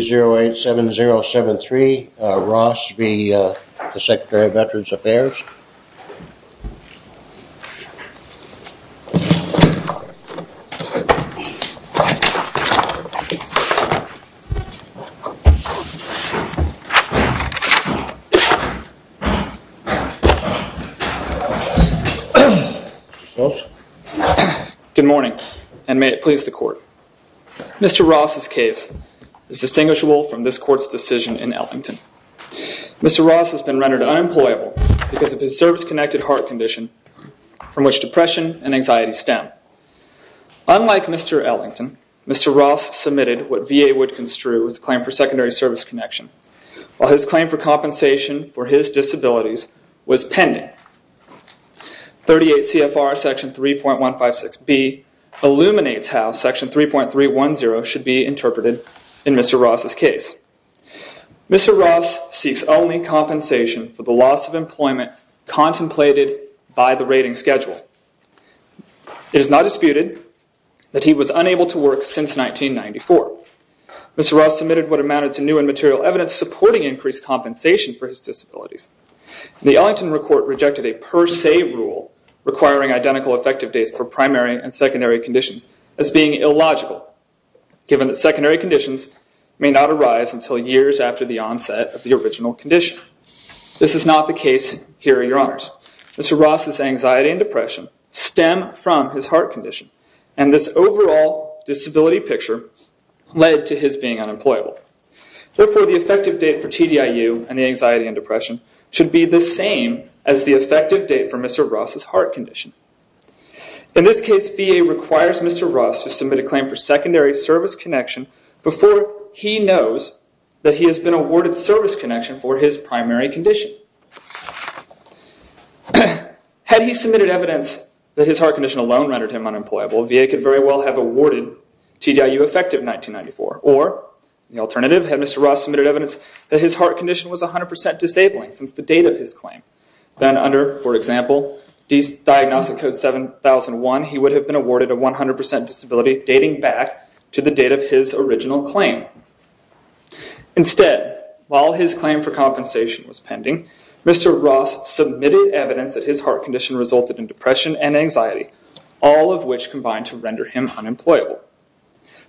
0 8 7 0 7 3 I invite September of veterans affairs. Good morning and may it please the Court. Mister Ross' case is distinguishable from this Court's decision in Ellington. Mister Ross has been rendered unemployable because of his service-connected heart condition from which depression and anxiety stem. Unlike Mister Ellington, Mister Ross submitted what VA would construe his claim for secondary service connection while his claim for compensation for his disabilities was pending. 38 CFR section 3.156B illuminates how section 3.310 should be interpreted in Mister Ross seeks only compensation for the loss of employment contemplated by the rating schedule. It is not disputed that he was unable to work since 1994. Mister Ross submitted what amounted to new and material evidence supporting increased compensation for his disabilities. The Ellington report rejected a per se rule requiring identical effective days for primary and secondary conditions as being illogical given that secondary conditions may not arise until years after the onset of the original condition. This is not the case here, Your Honors. Mister Ross' anxiety and depression stem from his heart condition and this overall disability picture led to his being unemployable. Therefore, the effective date for TDIU and the anxiety and depression should be the same as the effective date for Mister Ross' heart condition. In this case, VA requires Mister Ross to submit a claim for secondary service connection before he knows that he has been awarded service connection for his primary condition. Had he submitted evidence that his heart condition alone rendered him unemployable, VA could very well have awarded TDIU effective 1994. Or, the alternative, had Mister Ross submitted evidence that his heart condition was 100% disabling since the date of his claim. Then under, for example, Diagnostic Code 7001, he would have been awarded a 100% disability dating back to the date of his original claim. Instead, while his claim for compensation was pending, Mister Ross submitted evidence that his heart condition resulted in depression and anxiety, all of which combined to render him unemployable.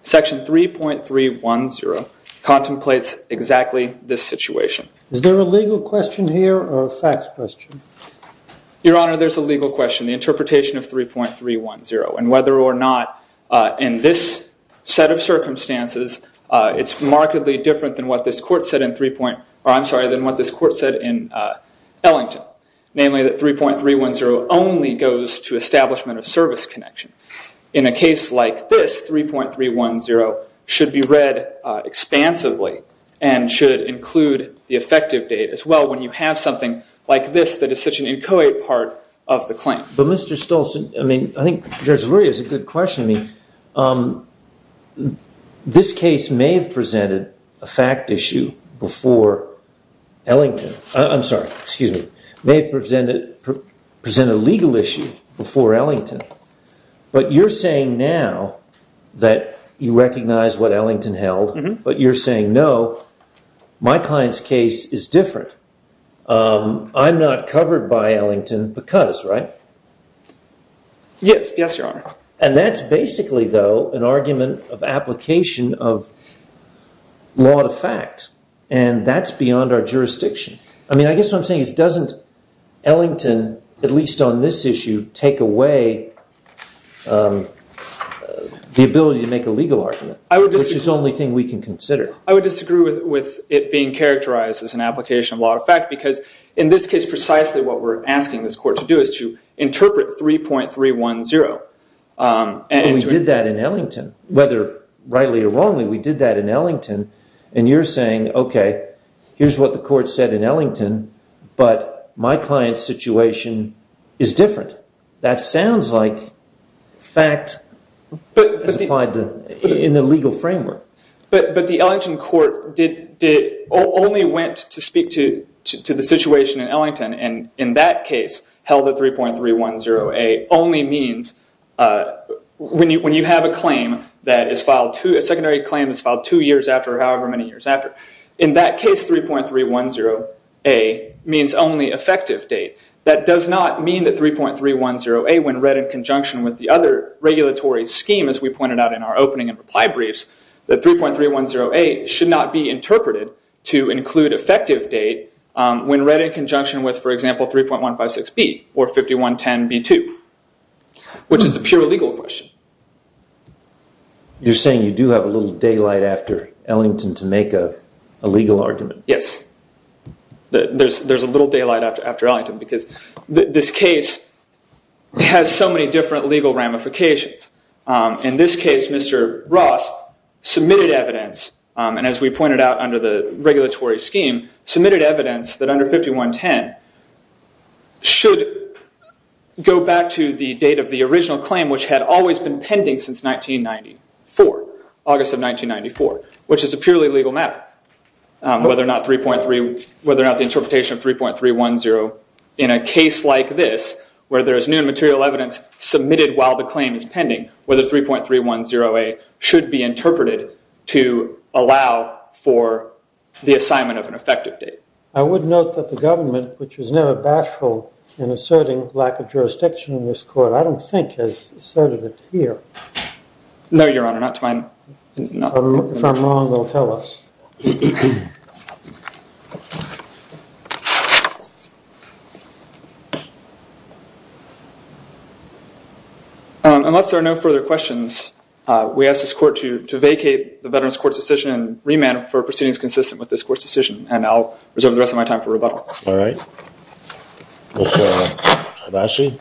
Section 3.310 contemplates exactly this situation. Is there a legal question here or a facts question? Your Honor, there's a legal question. The interpretation of 3.310 and whether or not, in this set of circumstances, it's remarkably different than what this court said in 3 point, or I'm sorry, than what this court said in Ellington, namely that 3.310 only goes to establishment of service connection. In a case like this, 3.310 should be read expansively and should include the effective date as well when you have something like this that is such an inchoate part of the claim. But Mister Stolson, I mean, I think this really is a good question. I mean, this case may have presented a fact issue before Ellington. I'm sorry, excuse me, may have presented a legal issue before Ellington, but you're saying now that you recognize what Ellington held, but you're saying, no, my client's case is different. I'm not covered by And that's basically, though, an argument of application of law to fact, and that's beyond our jurisdiction. I mean, I guess what I'm saying is doesn't Ellington, at least on this issue, take away the ability to make a legal argument, which is the only thing we can consider. I would disagree with it being characterized as an application of law to fact because in this case, precisely what we're asking this court to do is to We did that in Ellington, whether rightly or wrongly, we did that in Ellington, and you're saying, okay, here's what the court said in Ellington, but my client's situation is different. That sounds like fact in the legal framework. But the Ellington court only went to speak to the situation in Ellington, and in that case, held at 3.310A only means, when you have a claim that is filed, a secondary claim that's filed two years after or however many years after, in that case, 3.310A means only effective date. That does not mean that 3.310A, when read in conjunction with the other regulatory scheme, as we pointed out in our opening and reply briefs, that 3.310A should not be interpreted to include effective date when read in conjunction with, for example, 5110B or 5110B2, which is a pure legal question. You're saying you do have a little daylight after Ellington to make a legal argument? Yes. There's a little daylight after Ellington, because this case has so many different legal ramifications. In this case, Mr. Ross submitted evidence, and as we pointed out under the regulatory scheme, submitted evidence that under 5110 should go back to the date of the original claim, which had always been pending since 1994, August of 1994, which is a purely legal matter, whether or not 3.3, whether or not the interpretation of 3.310 in a case like this, where there is new material evidence submitted while the claim is pending, whether 3.310A should be interpreted to allow for the assignment of an effective date. I would note that the government, which is now a certain lack of jurisdiction in this court, I don't think has asserted it here. No, Your Honor, not to my knowledge. If I'm wrong, they'll tell us. Unless there are no further questions, we ask this court to vacate the Veterans Court's decision and remand it for proceedings consistent with this court's decision, and I'll reserve the rest of my time for rebuttal. All right. Ms. Hibachi?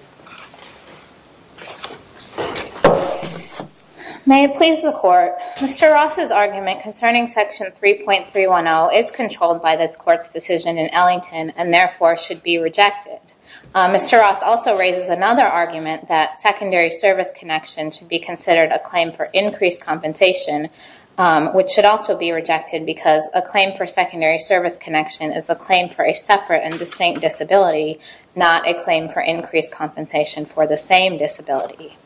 May it please the Court, Mr. Ross's argument concerning Section 3.310 is controlled by this court's decision in Ellington and therefore should be rejected. Mr. Ross also raises another argument that secondary service connection should be considered a claim also be rejected because a claim for secondary service connection is a claim for a separate and distinct disability, not a claim for increased compensation for the same disability.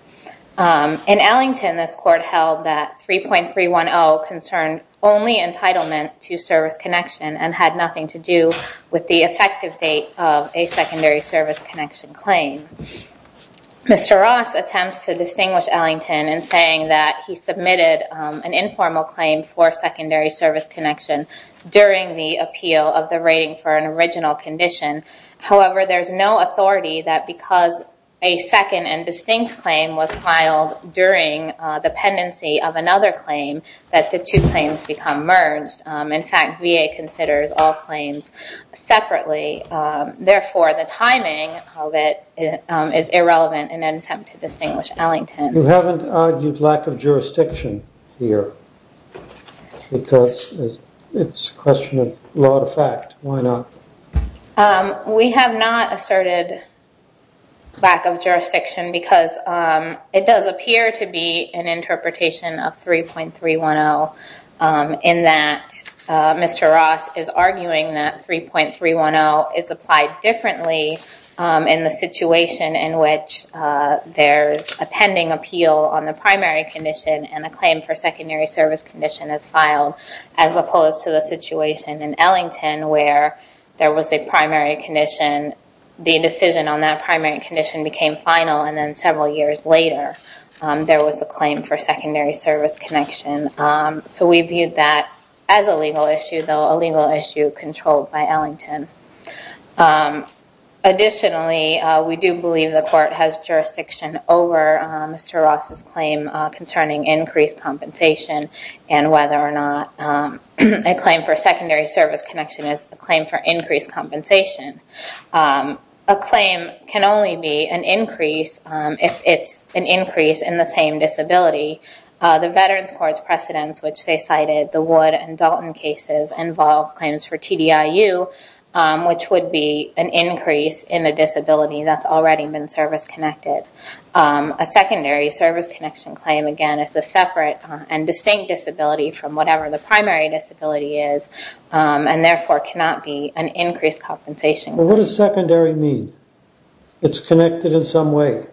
In Ellington, this court held that 3.310 concerned only entitlement to service connection and had nothing to do with the effective date of a secondary service connection claim. Mr. Ross attempts to distinguish Ellington in saying that he submitted an informal claim for secondary service connection during the appeal of the rating for an original condition. However, there's no authority that because a second and distinct claim was filed during the pendency of another claim that the two claims become merged. In fact, VA considers all claims separately. Therefore, the timing of it is irrelevant in an attempt to distinguish Ellington. You haven't argued lack of jurisdiction here because it's a question of law to fact. Why not? We have not asserted lack of jurisdiction because it does appear to be an interpretation of 3.310 in that Mr. Ross is arguing that 3.310 is applied differently in the situation in which there's a pending appeal on the primary condition and a claim for secondary service condition is filed as opposed to the situation in Ellington where there was a primary condition. The decision on that primary condition became final and then several years later there was a claim for secondary service connection. So we viewed that as a legal issue, though a legal issue controlled by Ellington. Additionally, we do believe the court has jurisdiction over Mr. Ross's claim concerning increased compensation and whether or not a claim for secondary service connection is a claim for increased compensation. A claim can only be an increase if it's an increase in the same disability. The Veterans Court's precedents, which they cited, the Wood and Dalton cases, involved claims for TDIU, which would be an increase in a disability that's already been service-connected. A secondary service connection claim, again, is a separate and distinct disability from whatever the primary disability is and therefore cannot be an increased compensation. What does secondary mean? It's connected in some way.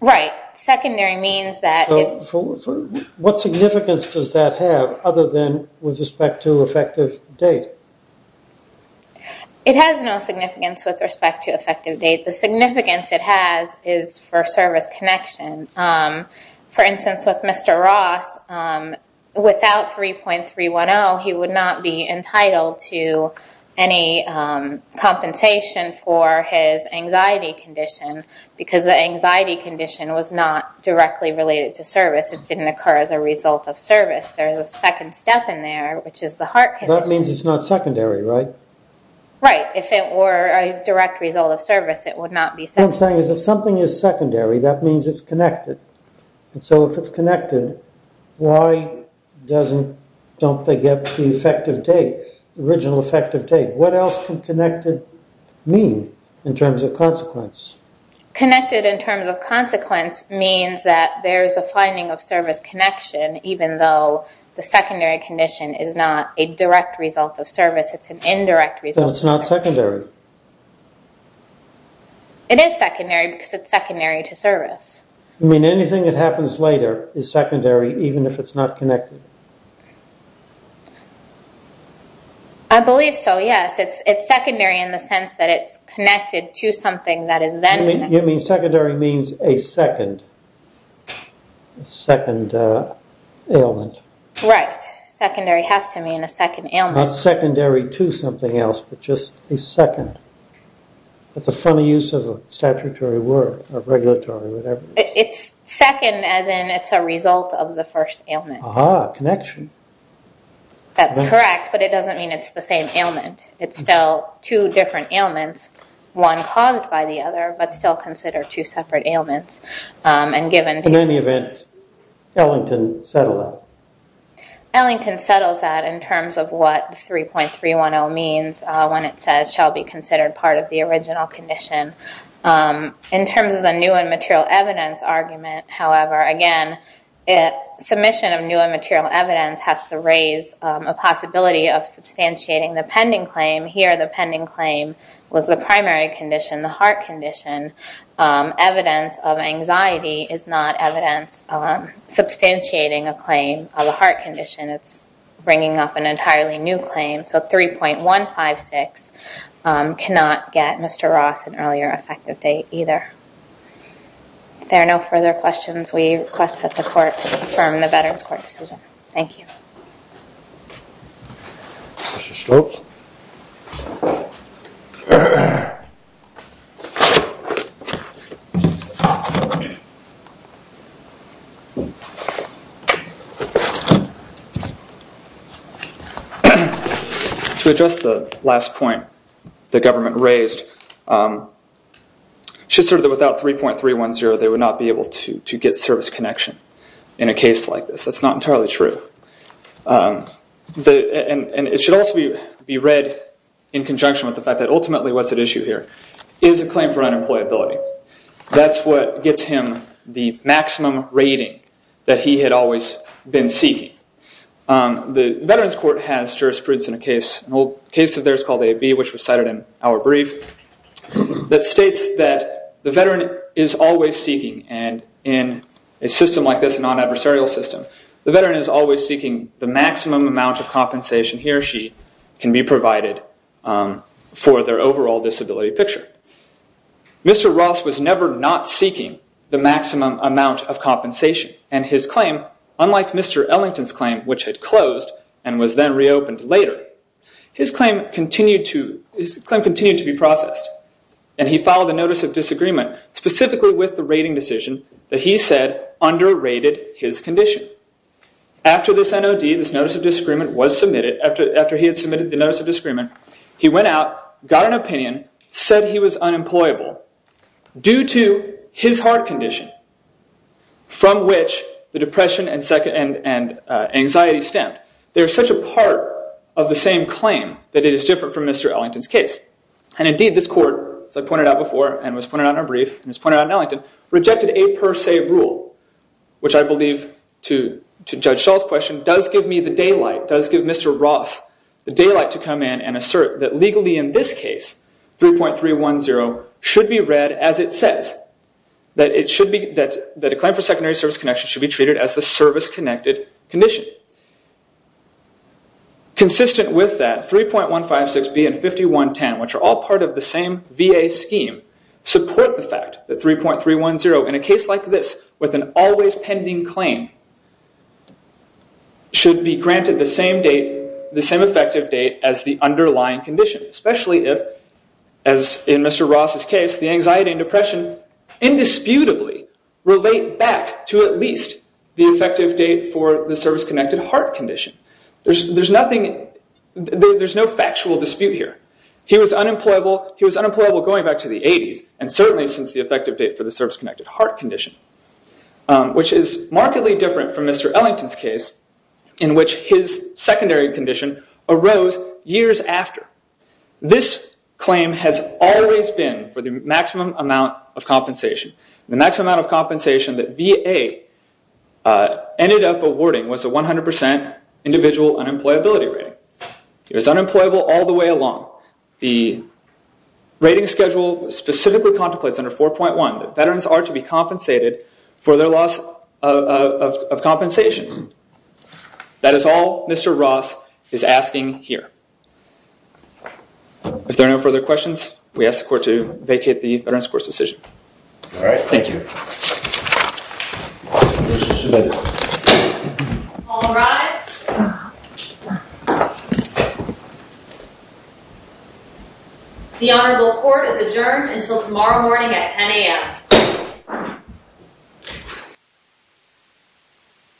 Right. Secondary means that it's... What significance does that have other than with respect to effective date? It has no significance with respect to effective date. The significance it has is for service connection. For example, without 3.310, he would not be entitled to any compensation for his anxiety condition because the anxiety condition was not directly related to service. It didn't occur as a result of service. There is a second step in there, which is the heart condition. That means it's not secondary, right? Right. If it were a direct result of service, it would not be secondary. What I'm saying is if something is secondary, that means it's connected. Why doesn't... don't they get the effective date, original effective date? What else can connected mean in terms of consequence? Connected in terms of consequence means that there is a finding of service connection even though the secondary condition is not a direct result of service. It's an indirect result. So it's not secondary? It is secondary because it's secondary to service. You mean anything that happens later is secondary even if it's not connected? I believe so, yes. It's secondary in the sense that it's connected to something that is then... You mean secondary means a second... second ailment. Right. Secondary has to mean a second ailment. Not secondary to something else, but just a second. That's a funny use of a statutory word, or is it? It's a result of the first ailment. Ah, connection. That's correct, but it doesn't mean it's the same ailment. It's still two different ailments, one caused by the other, but still considered two separate ailments and given... In any event, Ellington settled that. Ellington settles that in terms of what 3.310 means when it says shall be considered part of the original condition. In terms of the new and material evidence, again, submission of new and material evidence has to raise a possibility of substantiating the pending claim. Here the pending claim was the primary condition, the heart condition. Evidence of anxiety is not evidence substantiating a claim of a heart condition. It's bringing up an entirely new claim, so 3.156 cannot get Mr. Ross an earlier effective date either. There are no further questions. We request that the court affirm the Veterans Court decision. Thank you. Mr. Stokes. To address the last point the government raised, it should assert that without 3.310 they would not be able to get service connection in a case like this. That's not entirely true. And it should also be read in conjunction with the fact that ultimately what's at issue here is a claim for unemployability. That's what gets him the maximum rating that he had always been seeking. The Veterans Court has jurisprudence in a case, an old case of theirs called AB which was cited in our brief, that states that the veteran is always seeking and in a system like this, a non-adversarial system, the veteran is always seeking the maximum amount of compensation he or she can be provided for their overall disability picture. Mr. Ross was never not seeking the maximum amount of compensation and his claim, unlike Mr. Ellington's claim which had closed and was then reopened later, his claim continued to be processed and he filed a notice of disagreement specifically with the rating decision that he said underrated his condition. After this NOD, this notice of disagreement was submitted, after he had submitted the notice of disagreement, he went out, got an opinion, said he was unemployable due to his heart condition from which the depression and anxiety stemmed. There's such a part of the same claim that it is different from Mr. Ellington's case. And indeed this court, as I pointed out before and was pointed out in our brief and was pointed out in Ellington, rejected a per se rule which I believe to judge Shaw's question does give me the daylight, does give Mr. Ross the daylight to come in and assert that legally in this case 3.310 should be read as it says, that it should be, that the claim for secondary service connection should be treated as the service-connected condition. Consistent with that, 3.156B and 5110 which are all part of the same VA scheme support the fact that 3.310 in a case like this with an always pending claim should be granted the same date, the same effective date as the underlying condition. Especially if, as in Mr. Ross' case, the anxiety and depression indisputably relate back to at least the effective date for the service-connected heart condition. There's nothing, there's no factual dispute here. He was unemployable, he was unemployable going back to the 80s and certainly since the effective date for the service-connected heart condition which is markedly different from Mr. Ellington's case in which his secondary condition arose years after. This claim has always been for the maximum amount of compensation. The maximum amount of compensation that VA ended up awarding was a 100% individual unemployability rate. He was unemployable all the way along. The rating schedule specifically contemplates under 4.1 that veterans are to be compensated for their loss of compensation. That is all Mr. Ross is asking here. If there are no further questions, we ask the court to vacate the The Honorable Court is adjourned until tomorrow morning at 10 a.m.